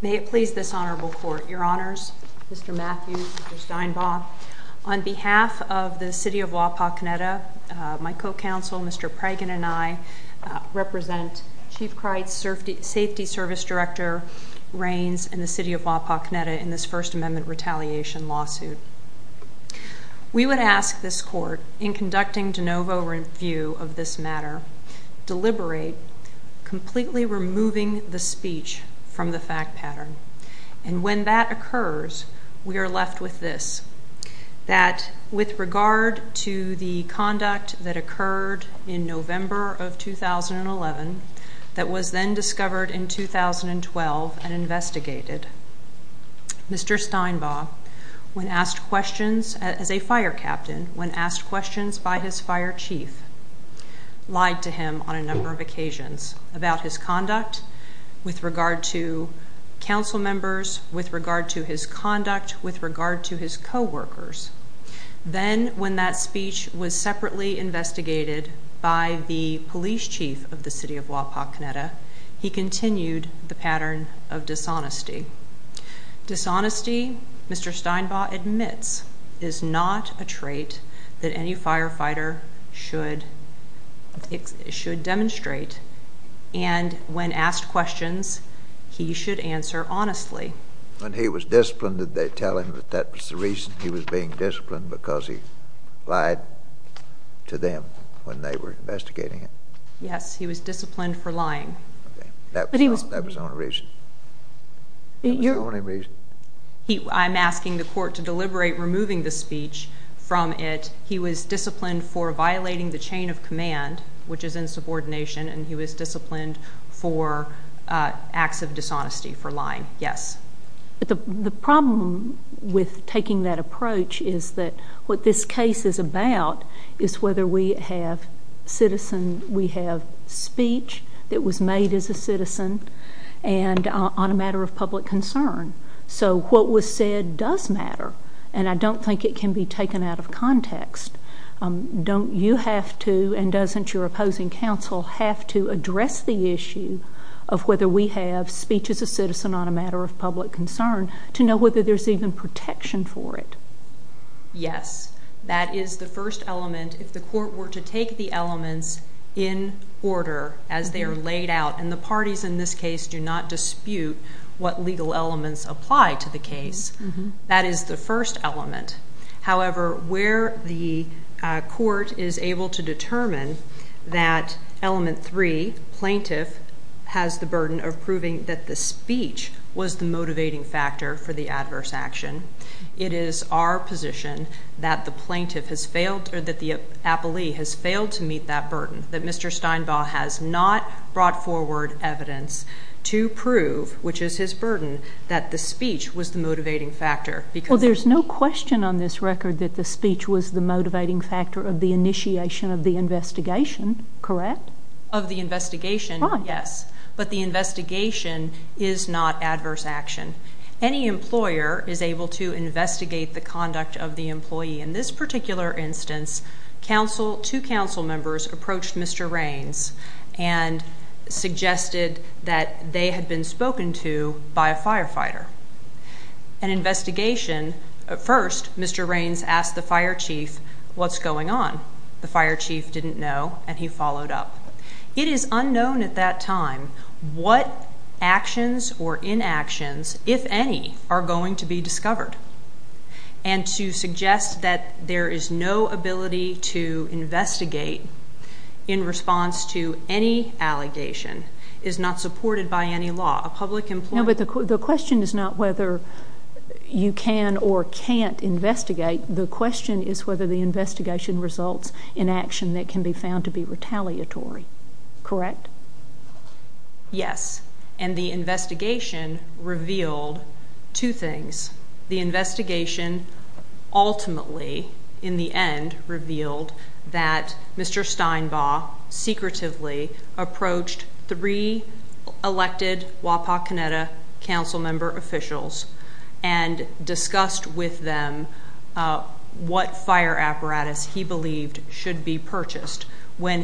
May it please this honorable court, your honors, Mr. Matthews, Mr. Stinebaugh. On behalf of the City of Wapakoneta, my co-counsel, Mr. Pragin, and I represent Chief Kreitz Safety Service Director Raines and the City of Wapakoneta in this First Amendment retaliation lawsuit. We would ask this court, in conducting de novo review of this matter, deliberate completely removing the speech from the fact pattern. And when that occurs, we are left with this, that with regard to the conduct that occurred in November of 2011, that was then discovered in 2012 and investigated, Mr. Stinebaugh, when asked questions, as a fire captain, when with regard to council members, with regard to his conduct, with regard to his co-workers. Then when that speech was separately investigated by the police chief of the City of Wapakoneta, he continued the pattern of dishonesty. Dishonesty, Mr. Stinebaugh admits, is not a trait that any asked questions, he should answer honestly. When he was disciplined, did they tell him that that was the reason he was being disciplined, because he lied to them when they were investigating him? Yes, he was disciplined for lying. That was the only reason? That was the only reason? I'm asking the court to deliberate removing the speech from it. He was disciplined for violating the chain of command, which is insubordination, and he was disciplined for acts of dishonesty, for lying. Yes. But the problem with taking that approach is that what this case is about is whether we have citizen, we have speech that was made as a citizen, and on a matter of public concern. So what was said does matter, and I don't think it can be taken out of context. Don't you have to, and doesn't your opposing counsel, have to address the issue of whether we have speech as a citizen on a matter of public concern to know whether there's even protection for it? Yes, that is the first element. If the court were to take the elements in order as they are laid out, and the parties in this case do not dispute what legal elements apply to the case, that is the first element. However, where the court is able to determine that element three, plaintiff, has the burden of proving that the speech was the motivating factor for the adverse action, it is our position that the plaintiff has failed, or that the appellee has failed to meet that burden, that Mr. Steinbaugh has not brought forward evidence to prove, which is his burden, that the speech was the motivating factor. Well, there's no question on this record that the speech was the motivating factor of the initiation of the investigation, correct? Of the investigation, yes, but the investigation is not adverse action. Any employer is able to investigate the conduct of the employee. In this particular instance, two counsel members approached Mr. Raines and suggested that they had been spoken to by a firefighter. An investigation, at first, Mr. Raines asked the fire chief, what's going on? The fire chief didn't know, and he followed up. It is unknown at that time what actions or inactions, if any, are going to be discovered, and to suggest that there is no ability to investigate in response to any allegation is not supported by any law. A public employee... No, but the question is not whether you can or can't investigate. The question is whether the investigation results in action that can be found to be retaliatory, correct? Yes, and the investigation revealed two things. The investigation ultimately, in the end, revealed that Mr. Steinbaugh secretively approached three elected Wapak Kaneda council member officials and discussed with them what fire apparatus he believed should be purchased. The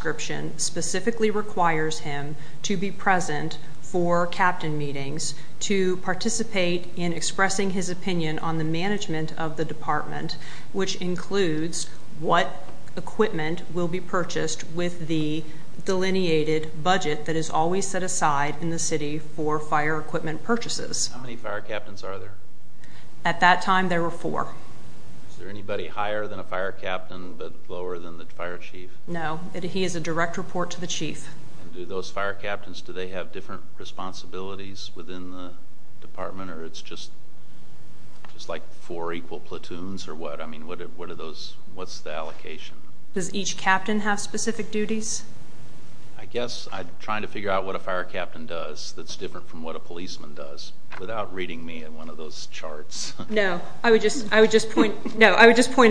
fire chief specifically requires him to be present for captain meetings, to participate in expressing his opinion on the management of the department, which includes what equipment will be purchased with the delineated budget that is always set aside in the city for fire equipment purchases. How many fire captains are there? At that time, there were four. Is there anybody higher than a fire captain, but lower than the fire chief? No, he is a direct report to the chief. And do those fire captains, do they have different responsibilities within the department or it's just like four equal platoons or what? I mean, what are those, what's the allocation? Does each captain have specific duties? I guess I'm trying to figure out what a fire captain does that's different from what a policeman does without reading me in one of those charts. No, I would just point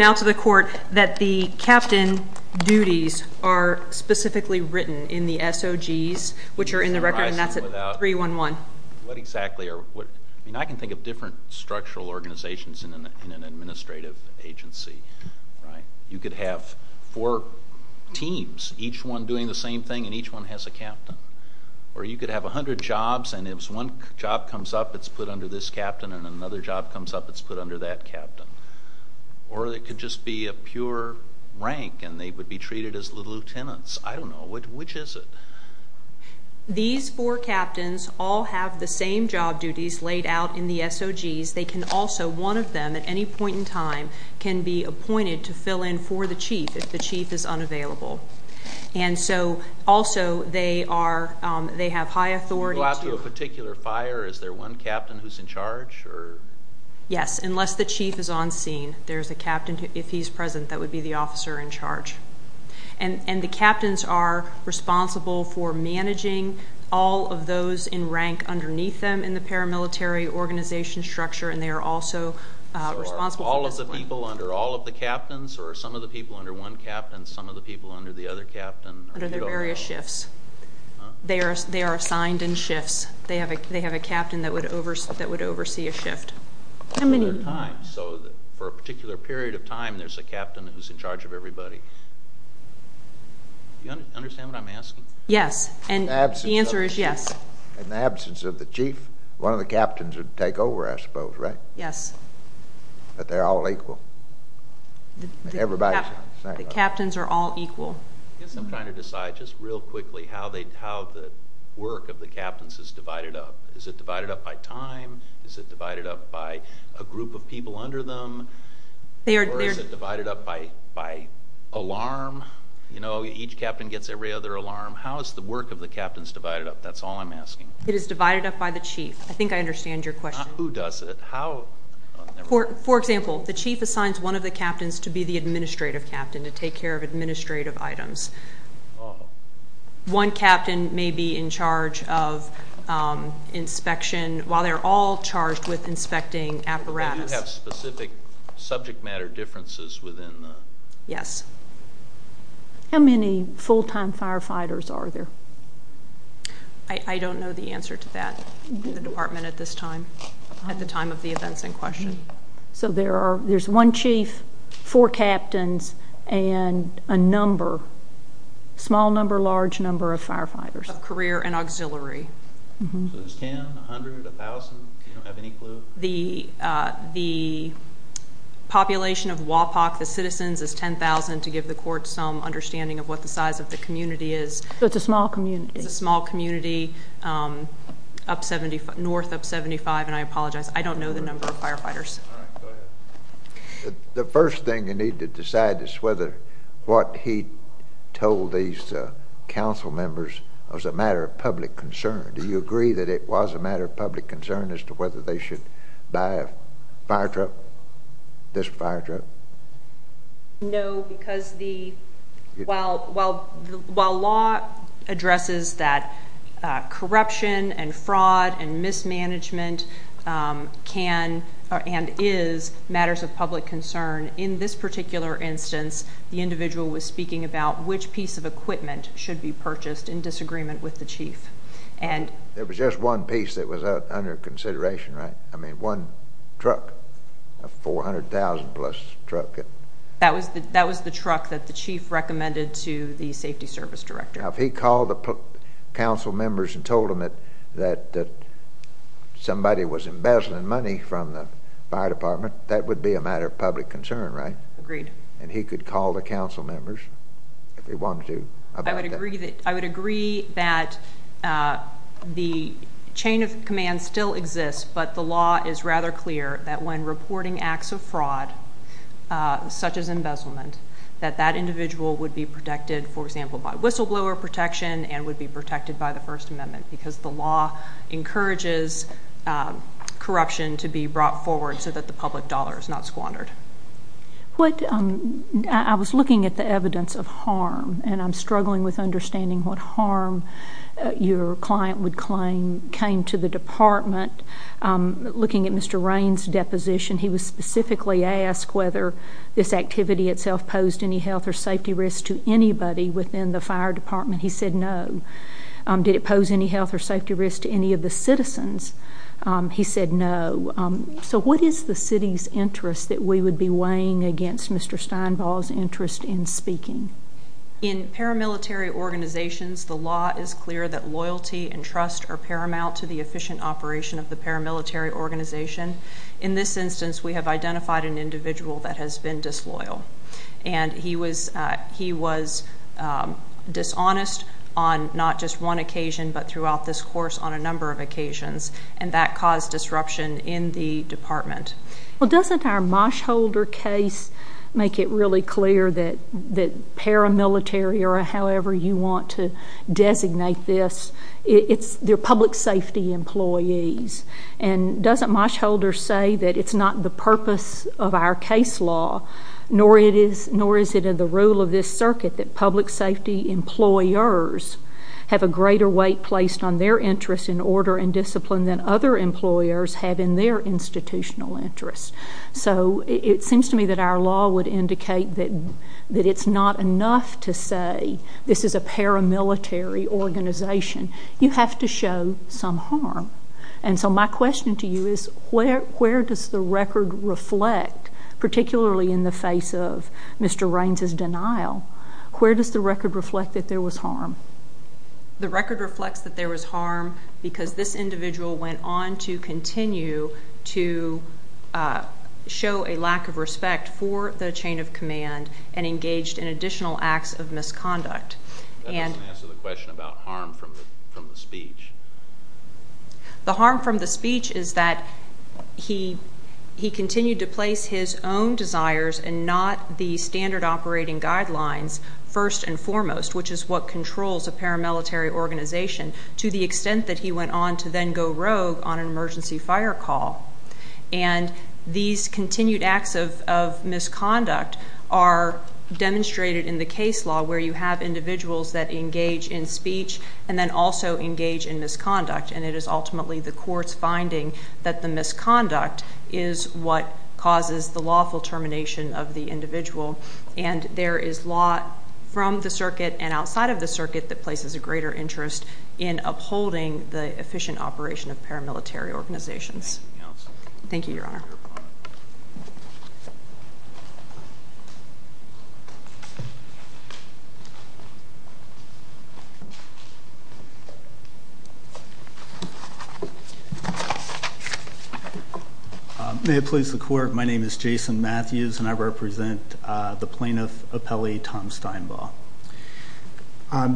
out to the court that the captain duties are specifically written in the SOGs, which are in the record and that's at 311. What exactly are, I mean, I can think of different structural organizations in an administrative agency, right? You could have four teams, each one doing the same thing and each one has a captain. Or you could have a hundred jobs and if one job comes up, it's put under this captain and another job comes up, it's put under that captain. Or it could just be a pure rank and they would be treated as lieutenants. I don't know, which is it? These four captains all have the same job duties laid out in the SOGs. They can also, one of them at any point in time, can be appointed to fill in for the chief if the chief is unavailable. And so also they are, they have high authority. To go out to a particular fire, is there one captain who's in charge? Yes, unless the chief is on scene, there's a captain, if he's present, that would be the officer in charge. And the captains are responsible for managing all of those in rank underneath them in the paramilitary organization structure and they are also responsible for discipline. So all of the people under all of the captains or some of the people under one captain, some of the other people under the other captain? Under their various shifts. They are assigned in shifts. They have a captain that would oversee a shift. How many times? So for a particular period of time, there's a captain who's in charge of everybody. Do you understand what I'm asking? Yes, and the answer is yes. In the absence of the chief, one of the captains would take over, I suppose, right? Yes. But they're all equal. The captains are all equal. I guess I'm trying to decide just real quickly how the work of the captains is divided up. Is it divided up by time? Is it divided up by a group of people under them? Or is it divided up by alarm? You know, each captain gets every other alarm. How is the work of the captains divided up? That's all I'm asking. It is divided up by the chief. I think I understand your question. Who does it? How? For example, the chief assigns one of the captains to be the administrative captain to take care of administrative items. One captain may be in charge of inspection while they're all charged with inspecting apparatus. Do they have specific subject matter differences within the? Yes. How many full-time firefighters are there? I don't know the answer to that in the department at this time, at the time of the events in question. So there's one chief, four captains, and a number, small number, large number of firefighters. Of career and auxiliary. So there's ten, a hundred, a thousand? Do you have any clue? The population of WAPOC, the citizens, is 10,000 to give the community is. So it's a small community. It's a small community, um, up 75, north up 75, and I apologize. I don't know the number of firefighters. The first thing you need to decide is whether what he told these council members was a matter of public concern. Do you agree that it was a matter of public concern as to whether they should buy a firetruck, this firetruck? No, because the, while, while, while law addresses that corruption and fraud and mismanagement can and is matters of public concern, in this particular instance, the individual was speaking about which piece of equipment should be purchased in disagreement with the chief. And there was just one piece that was under consideration, right? I truck, a 400,000 plus truck. That was the, that was the truck that the chief recommended to the safety service director. Now, if he called the council members and told them that, that, that somebody was embezzling money from the fire department, that would be a matter of public concern, right? Agreed. And he could call the council members if he wanted to. I would agree that I would agree that, uh, the chain of command still exists, but the law is rather clear that when reporting acts of fraud, uh, such as embezzlement, that that individual would be protected, for example, by whistleblower protection and would be protected by the first amendment because the law encourages, um, corruption to be brought forward so that the public dollar is not squandered. What, um, I was looking at the evidence of harm and I'm struggling with understanding what harm your client would claim came to the department. Um, looking at Mr Raines deposition, he was specifically asked whether this activity itself posed any health or safety risks to anybody within the fire department. He said no. Um, did it pose any health or safety risks to any of the citizens? Um, he said no. Um, so what is the city's interest that we would be weighing against Mr Steinball's interest in speaking in paramilitary organizations? The law is clear that loyalty and trust are paramount to the efficient operation of the paramilitary organization. In this instance, we have identified an individual that has been disloyal, and he was he was, um, dishonest on not just one occasion, but throughout this course on a number of occasions, and that caused disruption in the department. Well, doesn't our Mosh Holder case make it really clear that that paramilitary or however you want to designate this, it's their public safety employees. And doesn't Mosh Holder say that it's not the purpose of our case law, nor it is, nor is it in the rule of this circuit that public safety employers have a in order and discipline than other employers have in their institutional interests. So it seems to me that our law would indicate that that it's not enough to say this is a paramilitary organization. You have to show some harm. And so my question to you is where where does the record reflect, particularly in the face of Mr Raines's denial? Where does the record reflect that there was harm? The record reflects that there was harm because this individual went on to continue to show a lack of respect for the chain of command and engaged in additional acts of misconduct. That doesn't answer the question about harm from from the speech. The harm from the speech is that he he continued to place his own desires and not the standard operating guidelines first and foremost, which is what controls a paramilitary organization to the extent that he went on to then go rogue on an emergency fire call. And these continued acts of of misconduct are demonstrated in the case law where you have individuals that engage in speech and then also engage in misconduct. And it is ultimately the court's finding that the misconduct is what causes the lawful termination of the individual. And there is law from the circuit and outside of the circuit that places a greater interest in upholding the efficient operation of May it please the court. My name is Jason Matthews, and I represent the plaintiff appellee Tom Steinbaugh.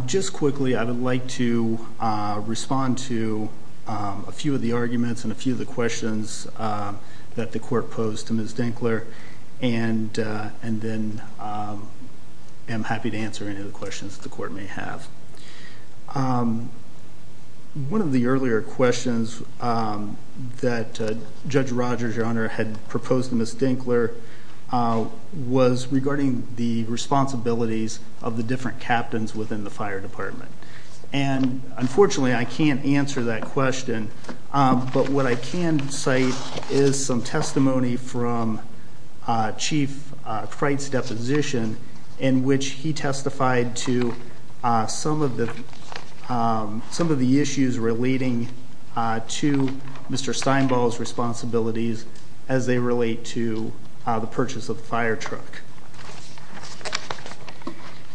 Just quickly, I would like to respond to a few of the arguments and a few of the questions that the court posed to Ms Dinkler. And and then I'm happy to answer any of the questions the court may have. Um, one of the earlier questions that Judge Rogers, your honor, had proposed to Ms Dinkler was regarding the responsibilities of the different captains within the fire department. And unfortunately, I can't answer that question. But what I can say is some testimony from Chief Freight's deposition in which he testified to some of the some of the issues relating to Mr Steinbaugh's responsibilities as they relate to the purchase of the fire truck.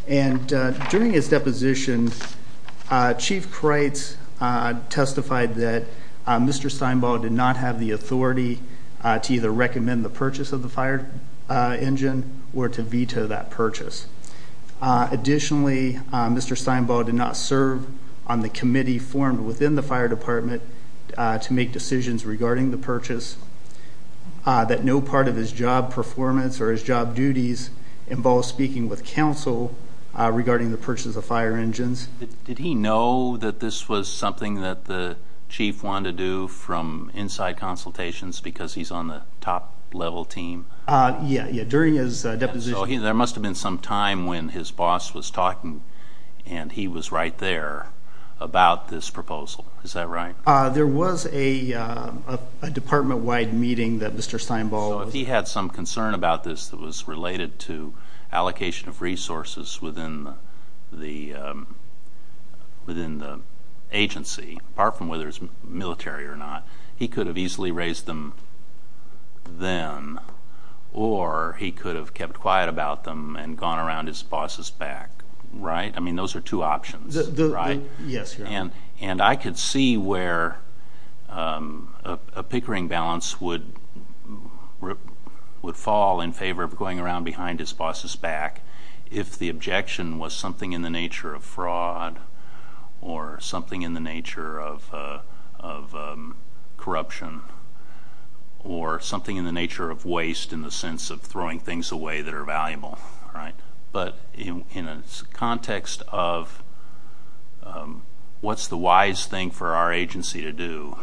And during his deposition, Chief Creight's testified that Mr Steinbaugh did not have the authority to either recommend the purchase of the fire engine or to veto that purchase. Additionally, Mr Steinbaugh did not serve on the committee formed within the fire department to make decisions regarding the purchase that no part of his job performance or his job duties involve speaking with counsel regarding the purchase of fire engines. Did he know that this was something that the chief wanted to do from inside consultations because he's on the top level team? Yeah, yeah. During his deposition, there must have been some time when his boss was there was a department-wide meeting that Mr Steinbaugh... So if he had some concern about this that was related to allocation of resources within the agency, apart from whether it's military or not, he could have easily raised them then or he could have kept quiet about them and those are two options, right? And I could see where a pickering balance would fall in favor of going around behind his boss's back if the objection was something in the nature of fraud or something in the nature of corruption or something in the nature of waste in the sense of throwing things away that are valuable, right? But in a context of what's the wise thing for our agency to do,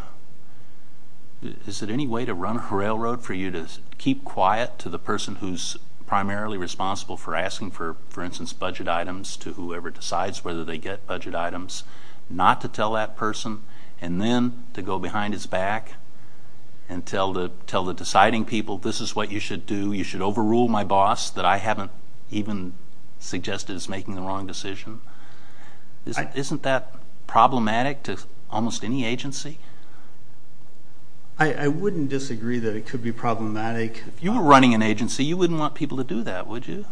is it any way to run a railroad for you to keep quiet to the person who's primarily responsible for asking for, for instance, budget items to whoever decides whether they get budget items, not to tell that person and then to go behind his back and tell the deciding people this is what you should do, you should overrule my boss that I haven't even suggested is making the wrong decision. Isn't that problematic to almost any agency? I wouldn't disagree that it could be problematic. If you were running an agency, you wouldn't want people to do that, would you?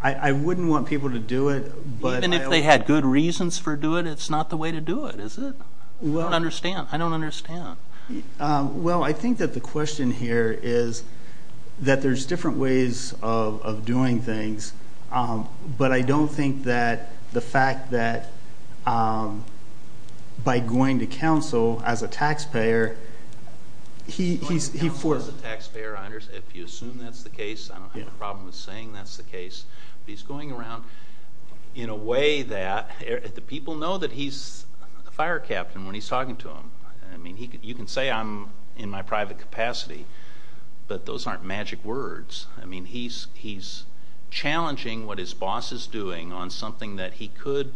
I wouldn't want people to do it. Even if they had good reasons for doing it, it's not the way to do it, is it? I don't understand. I don't understand. Well, I think that the question here is that there's different ways of doing things, but I don't think that the fact that by going to counsel as a taxpayer, he's... Going to counsel as a taxpayer, I understand. If you assume that's the case, I don't have a problem with saying that's the case, but he's going around in a way that the people know that he's a fire captain when he's talking to him. I mean, you can say I'm in my private capacity, but those aren't magic words. I mean, he's challenging what his boss is doing on something that he could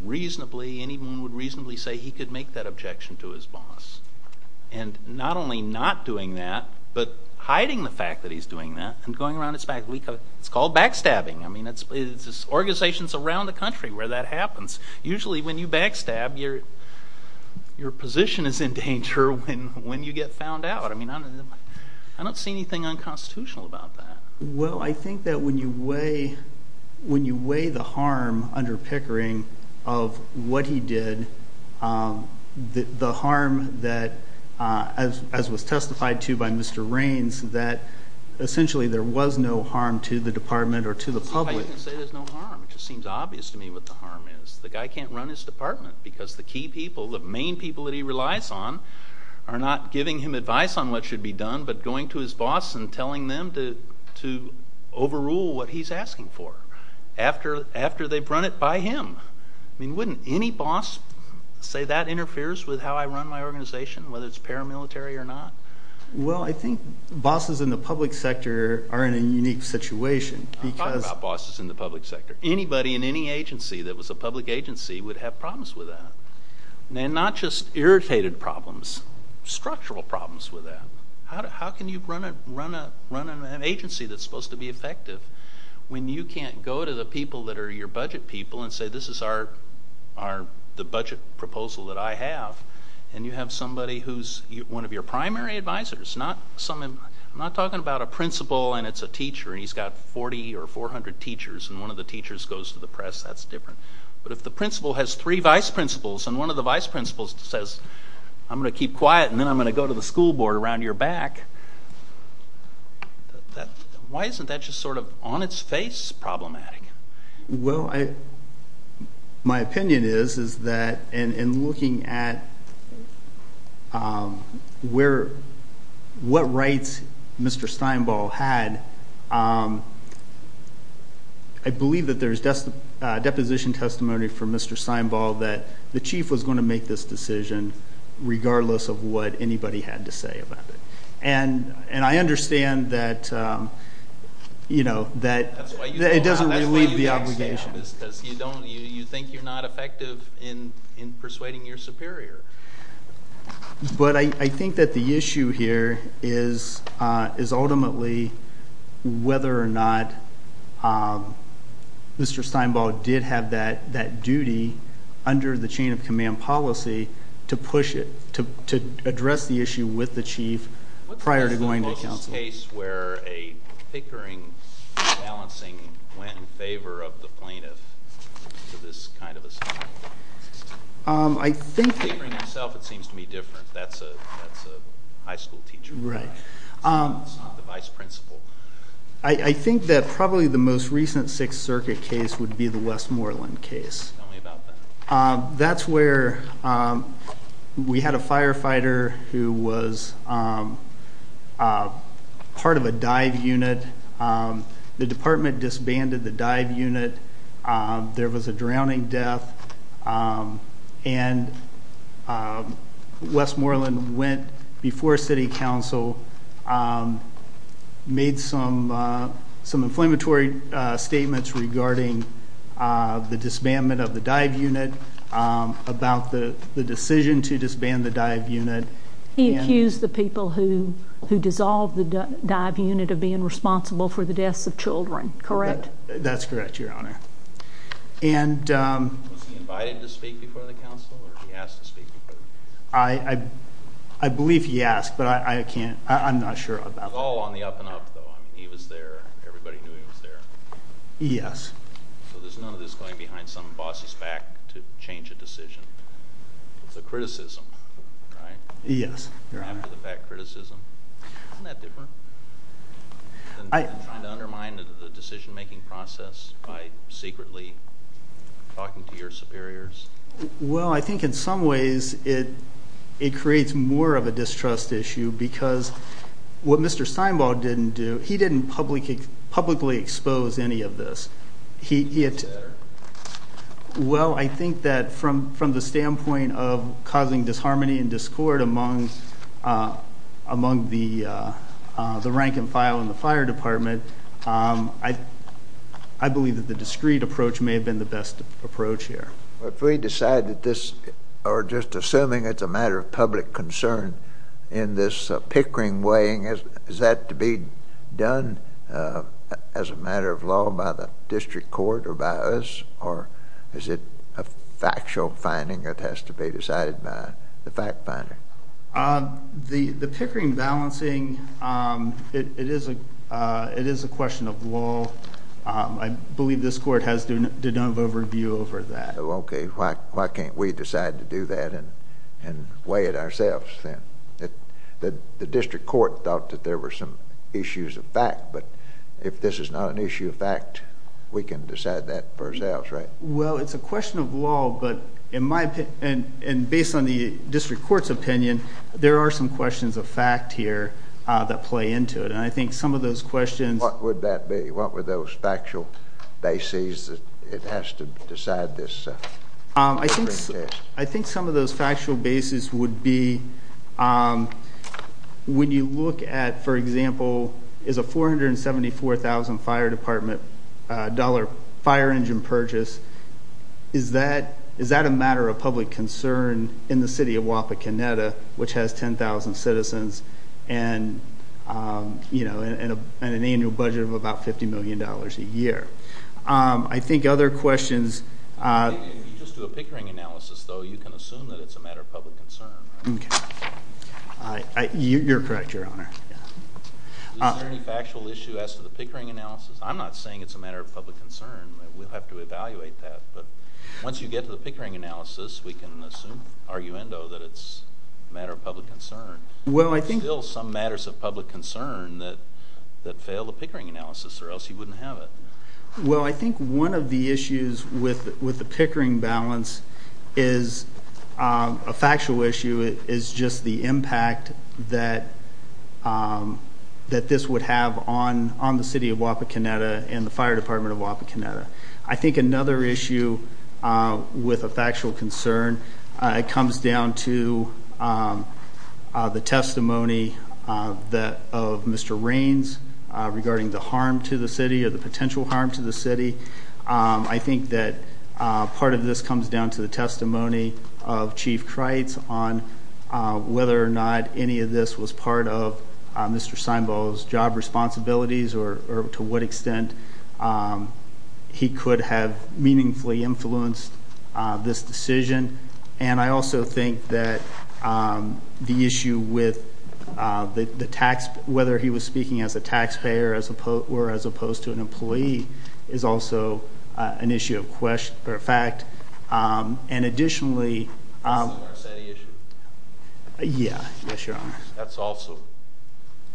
reasonably, anyone would reasonably say he could make that objection to his boss. And not only not doing that, but hiding the fact that he's doing that and going around his back. It's called backstabbing. I mean, it's organizations around the country where that happens. Usually when you backstab, your position is in danger when you get found out. I mean, I don't see anything unconstitutional about that. Well, I think that when you weigh the harm under Pickering of what he did, the harm that, as was testified to by Mr. Rains, that essentially there was no harm to the department or to the public. I didn't say there's no harm. It just obvious to me what the harm is. The guy can't run his department because the key people, the main people that he relies on, are not giving him advice on what should be done, but going to his boss and telling them to overrule what he's asking for after they've run it by him. I mean, wouldn't any boss say that interferes with how I run my organization, whether it's paramilitary or not? Well, I think bosses in the public sector are in a unique situation. I'm talking about bosses in the public sector. Anybody in any agency that was a public agency would have problems with that, and not just irritated problems, structural problems with that. How can you run an agency that's supposed to be effective when you can't go to the people that are your budget people and say, this is the budget proposal that I have, and you have somebody who's one of your primary advisors. I'm not talking about a principal, and it's a teacher, and he's got 40 or 400 teachers, and one of the teachers goes to the press. That's different. But if the principal has three vice principals, and one of the vice principals says, I'm going to keep quiet, and then I'm going to go to the school board around your back, why isn't that just sort of on its face problematic? Well, my opinion is that in looking at what rights Mr. Steinball had, I believe that there's deposition testimony from Mr. Steinball that the chief was going to make this decision regardless of what anybody had to say about it. And I understand that it doesn't relieve the obligation. You think you're not effective in persuading your superior. But I think that the issue here is ultimately whether or not Mr. Steinball did have that duty under the chain of command policy to push it, to address the issue with the chief prior to going to counsel. What is the closest case where a bickering, imbalancing went in favor of the plaintiff to this kind of assault? I think... Bickering itself, it seems to be different. That's a high school teacher. Right. It's not the vice principal. I think that probably the most recent Sixth Circuit case would be the Westmoreland case. Tell me about that. That's where we had a firefighter who was part of a dive unit. The department disbanded the dive unit. There was a drowning death. And Westmoreland went before city council, made some inflammatory statements regarding the disbandment of the dive unit, about the decision to disband the dive unit. He accused the people who dissolved the dive unit of being responsible for the deaths of children, correct? That's correct, Your Honor. And... Was he invited to speak before the council? I believe he asked, but I can't... I'm not sure about that. It was all on the up and up, though. He was there. Everybody knew he was there. Yes. So there's none of this going behind some boss's back to change a decision? It's a criticism, right? Yes, Your Honor. After the fact criticism. Isn't that different? Than trying to undermine the decision making process by secretly talking to your superiors? Well, I think in some ways it creates more of a distrust issue because what Mr. Steinbaugh didn't do, he didn't publicly expose any of this. Well, I think that from the standpoint of causing disharmony and discord among the rank and file in the fire department, I believe that the discreet approach may have been the best approach here. If we decide that this, or just assuming it's a matter of public concern in this Pickering weighing, is that to be done as a matter of law by the district court or by us? Or is it a factual finding that has to be decided by the fact finder? The Pickering balancing, it is a question of law. I believe this court has done an overview over that. Why can't we decide to do that and weigh it ourselves? The district court thought that there were some issues of fact, but if this is not an issue of fact, we can decide that for ourselves, right? Well, it's a question of law, but in my opinion, and based on the district court's opinion, there are some questions of fact here that play into it. And I think some of those questions... What would that be? What were those factual bases that it has to decide this? I think some of those factual bases would be when you look at, for example, is a $474,000 fire department dollar fire engine purchase, is that a matter of public concern in the city of Wapakoneta, which has 10,000 citizens and an annual budget of about $50 million a year. I think other questions... If you just do a Pickering analysis, though, you can assume that it's a matter of public concern, right? You're correct, Your Honor. Is there any factual issue as to the Pickering analysis? I'm not saying it's a matter of public concern. We'll have to evaluate that. But once you get to the Pickering analysis, we can assume, arguendo, that it's a matter of public concern. It's still some matters of public concern that fail the Pickering analysis, or else you wouldn't have it. Well, I think one of the issues with the Pickering balance is a factual issue, is just the impact that this would have on the city of Wapakoneta and the fire department of comes down to the testimony of Mr. Raines regarding the harm to the city or the potential harm to the city. I think that part of this comes down to the testimony of Chief Crites on whether or not any of this was part of Mr. Seinbaugh's job responsibilities or to what extent he could have meaningfully influenced this decision. And I also think that the issue with the tax, whether he was speaking as a taxpayer or as opposed to an employee, is also an issue of fact. And additionally... Yes, Your Honor. That's also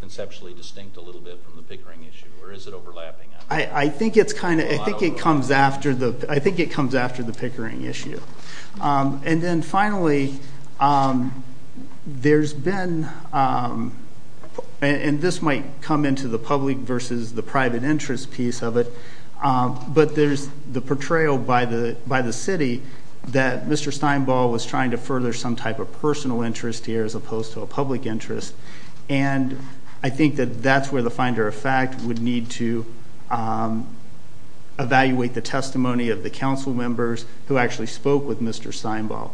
conceptually distinct a little bit from the Pickering issue, or is it overlapping? I think it comes after the Pickering issue. And then finally, there's been... And this might come into the public versus the private interest piece of it, but there's the portrayal by the city that Mr. Seinbaugh was trying to further some type of personal interest here as opposed to a public interest. And I think that that's where the fact would need to evaluate the testimony of the council members who actually spoke with Mr. Seinbaugh.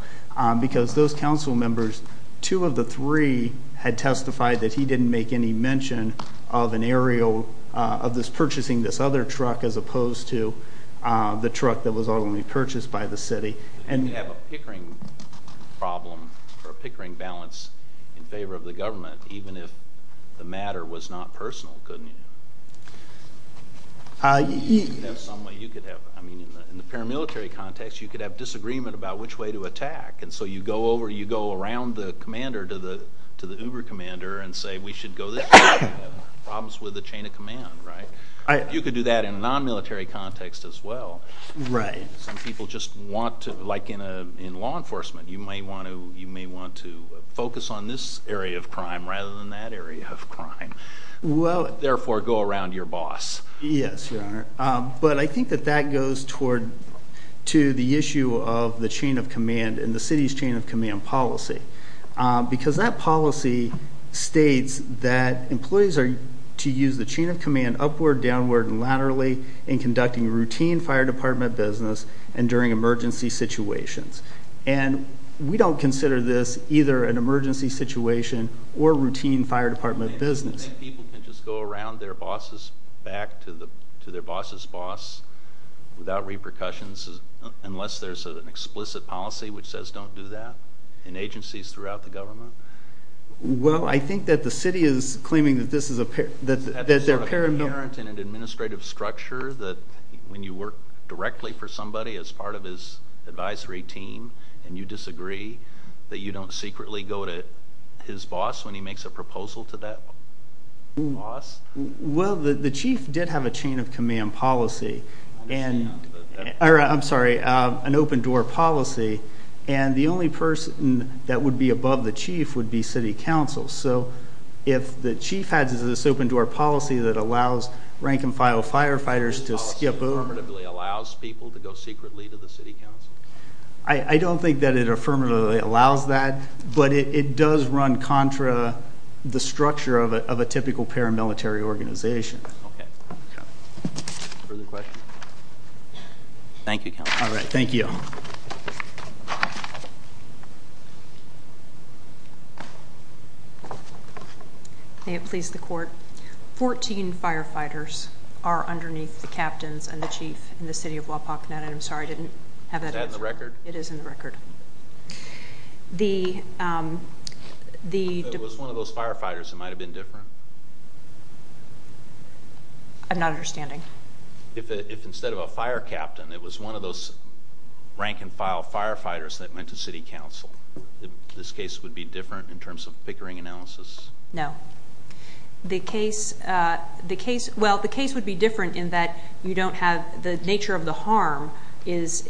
Because those council members, two of the three had testified that he didn't make any mention of an aerial... Of this purchasing this other truck as opposed to the truck that was ultimately purchased by the city. And... We have a Pickering problem or a Pickering balance in favor of the government, even if the matter was not personal, couldn't you? There's some way you could have... In the paramilitary context, you could have disagreement about which way to attack. And so you go over, you go around the commander to the Uber commander and say, we should go this way. Problems with the chain of command, right? You could do that in a non military context as well. Some people just want to... Like in law enforcement, you may want to focus on this area of crime rather than that area of crime. Therefore, go around your boss. Yes, your honor. But I think that that goes toward to the issue of the chain of command and the city's chain of command policy. Because that policy states that employees are to use the chain of command upward, downward, and laterally in conducting routine fire department business and during emergency situations. And we don't consider this either an emergency situation or routine fire department business. And people can just go around their bosses back to their boss's boss without repercussions, unless there's an explicit policy which says don't do that in agencies throughout the government? Well, I think that the city is claiming that this is a... That there's a parent in an administrative structure that when you work directly for somebody as part of his advisory team and you disagree that you don't secretly go to his boss when he makes a proposal to that boss? Well, the chief did have a chain of command policy and... I'm sorry, an open door policy. And the only person that would be above the chief would be city council. So if the chief has this open door policy that allows rank and file firefighters to skip over... Affirmatively allows people to go secretly to the city council. I don't think that it affirmatively allows that, but it does run contra the structure of a typical paramilitary organization. Okay. Further questions? Thank you, counsel. All right. Thank you. May it please the court. 14 firefighters are underneath the captains and the chief in the city of Wapakoneta. I'm sorry, I didn't have that answer. Is that in the record? It is in the record. If it was one of those firefighters, it might have been different. I'm not understanding. If instead of a fire captain, it was one of those rank and file firefighters that went to city council, this case would be different in terms of pickering analysis? No. Well, the case would be different in that you don't have... The nature of the harm is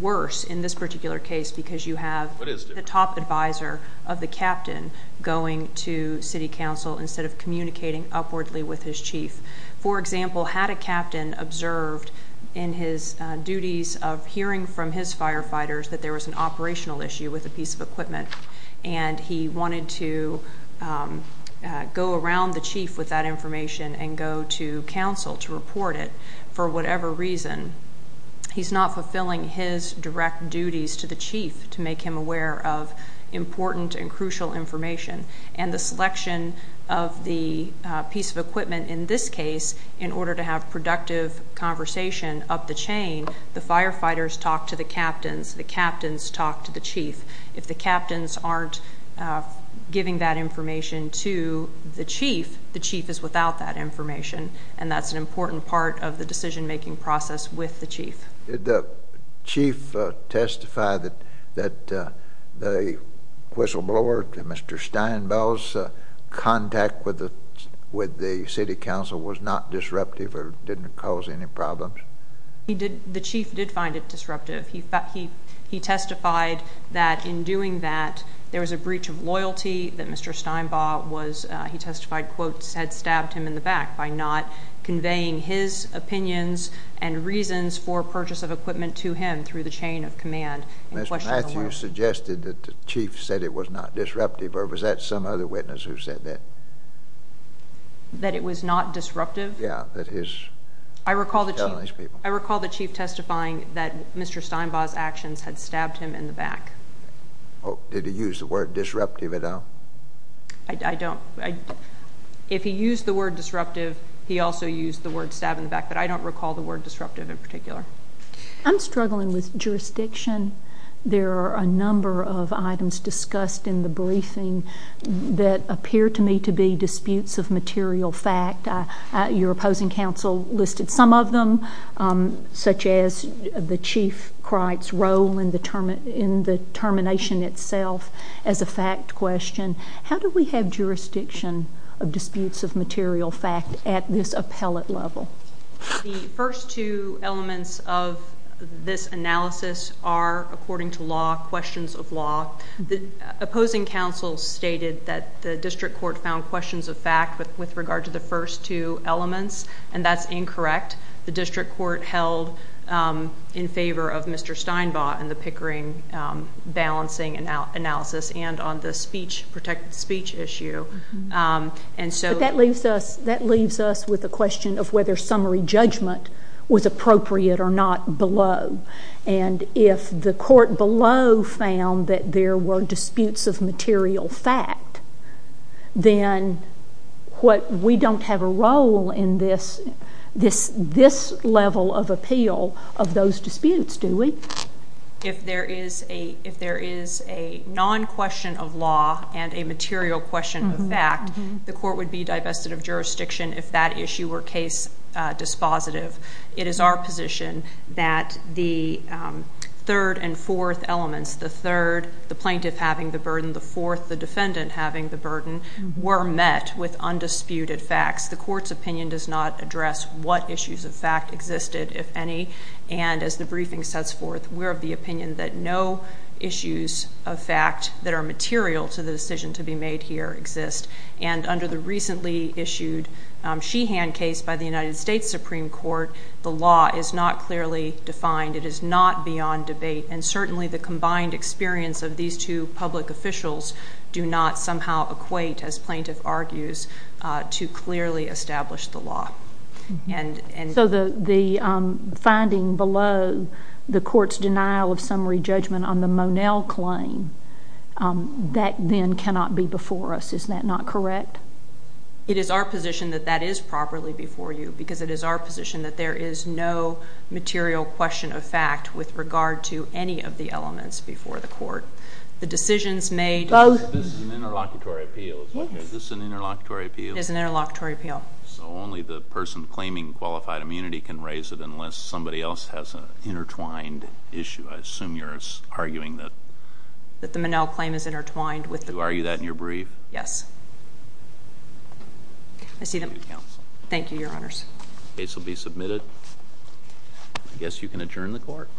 worse in this particular case because you have the top advisor of the captain going to city council instead of communicating upwardly with his chief. For example, had a captain observed in his duties of hearing from his firefighters that there was an operational issue with a piece of equipment and he wanted to go around the chief with that information and go to council to report it for whatever reason, he's not fulfilling his direct duties to the chief to make him aware of important and crucial information. And the selection of the piece of equipment in this case in order to have productive conversation up the chain, the firefighters talk to the captains, the captains talk to the chief. If the captains aren't giving that information to the chief, the chief is without that information, and that's an important part of the decision-making process with the chief. Did the chief testify that the whistleblower, Mr. Steinbell's contact with the city council was not disruptive or didn't cause any problems? The chief did find it disruptive. He testified that in doing that, there was a breach of loyalty that Mr. Steinbaugh was—he testified, quote, had stabbed him in the back by not conveying his opinions and reasons for purchase of equipment to him through the chain of command. Ms. Matthews suggested that the chief said it was not disruptive, or was that some other witness who said that? That it was not disruptive? Yeah, that his— I recall the chief— Telling these people. I recall the chief testifying that Mr. Steinbaugh's actions had stabbed him in the back. Did he use the word disruptive at all? I don't—if he used the word disruptive, he also used the word stab in the back, but I don't recall the word disruptive in particular. I'm struggling with jurisdiction. There are a number of items discussed in the briefing that appear to me to be disputes of material fact. Your opposing counsel listed some of them, such as the chief's role in the termination itself as a fact question. How do we have jurisdiction of disputes of material fact at this appellate level? The first two elements of this analysis are, according to law, questions of law. The opposing counsel stated that the district court found questions of fact with regard to the first two elements, and that's incorrect. The district court held in favor of Mr. Steinbaugh in the Pickering balancing analysis and on the speech—protected speech issue, and so— But that leaves us—that leaves us with a question of whether summary judgment was appropriate or not below. And if the court below found that there were disputes of material fact, then what—we don't have a role in this—this level of appeal of those disputes, do we? If there is a—if there is a non-question of law and a material question of fact, the court would be divested of jurisdiction if that issue were case dispositive. It is our position that the third and fourth elements—the third, the plaintiff having the burden, the fourth, the defendant having the burden—were met with undisputed facts. The court's opinion does not address what issues of fact existed, if any, and as the briefing sets forth, we're of the opinion that no issues of fact that are material to the decision to be made here exist. And under the recently issued Sheehan case by the United States Supreme Court, the law is not clearly defined. It is not beyond debate, and certainly the combined experience of these two public officials do not somehow equate, as plaintiff argues, to clearly establish the law. And— The finding below the court's denial of summary judgment on the Monell claim, that then cannot be before us. Is that not correct? It is our position that that is properly before you, because it is our position that there is no material question of fact with regard to any of the elements before the court. The decisions made— Both. This is an interlocutory appeal. Is this an interlocutory appeal? It is an interlocutory appeal. So only the person claiming qualified immunity can raise it unless somebody else has an intertwined issue. I assume you're arguing that— That the Monell claim is intertwined with the— You argue that in your brief? Yes. I see them. Thank you, Your Honors. The case will be submitted. I guess you can adjourn the court.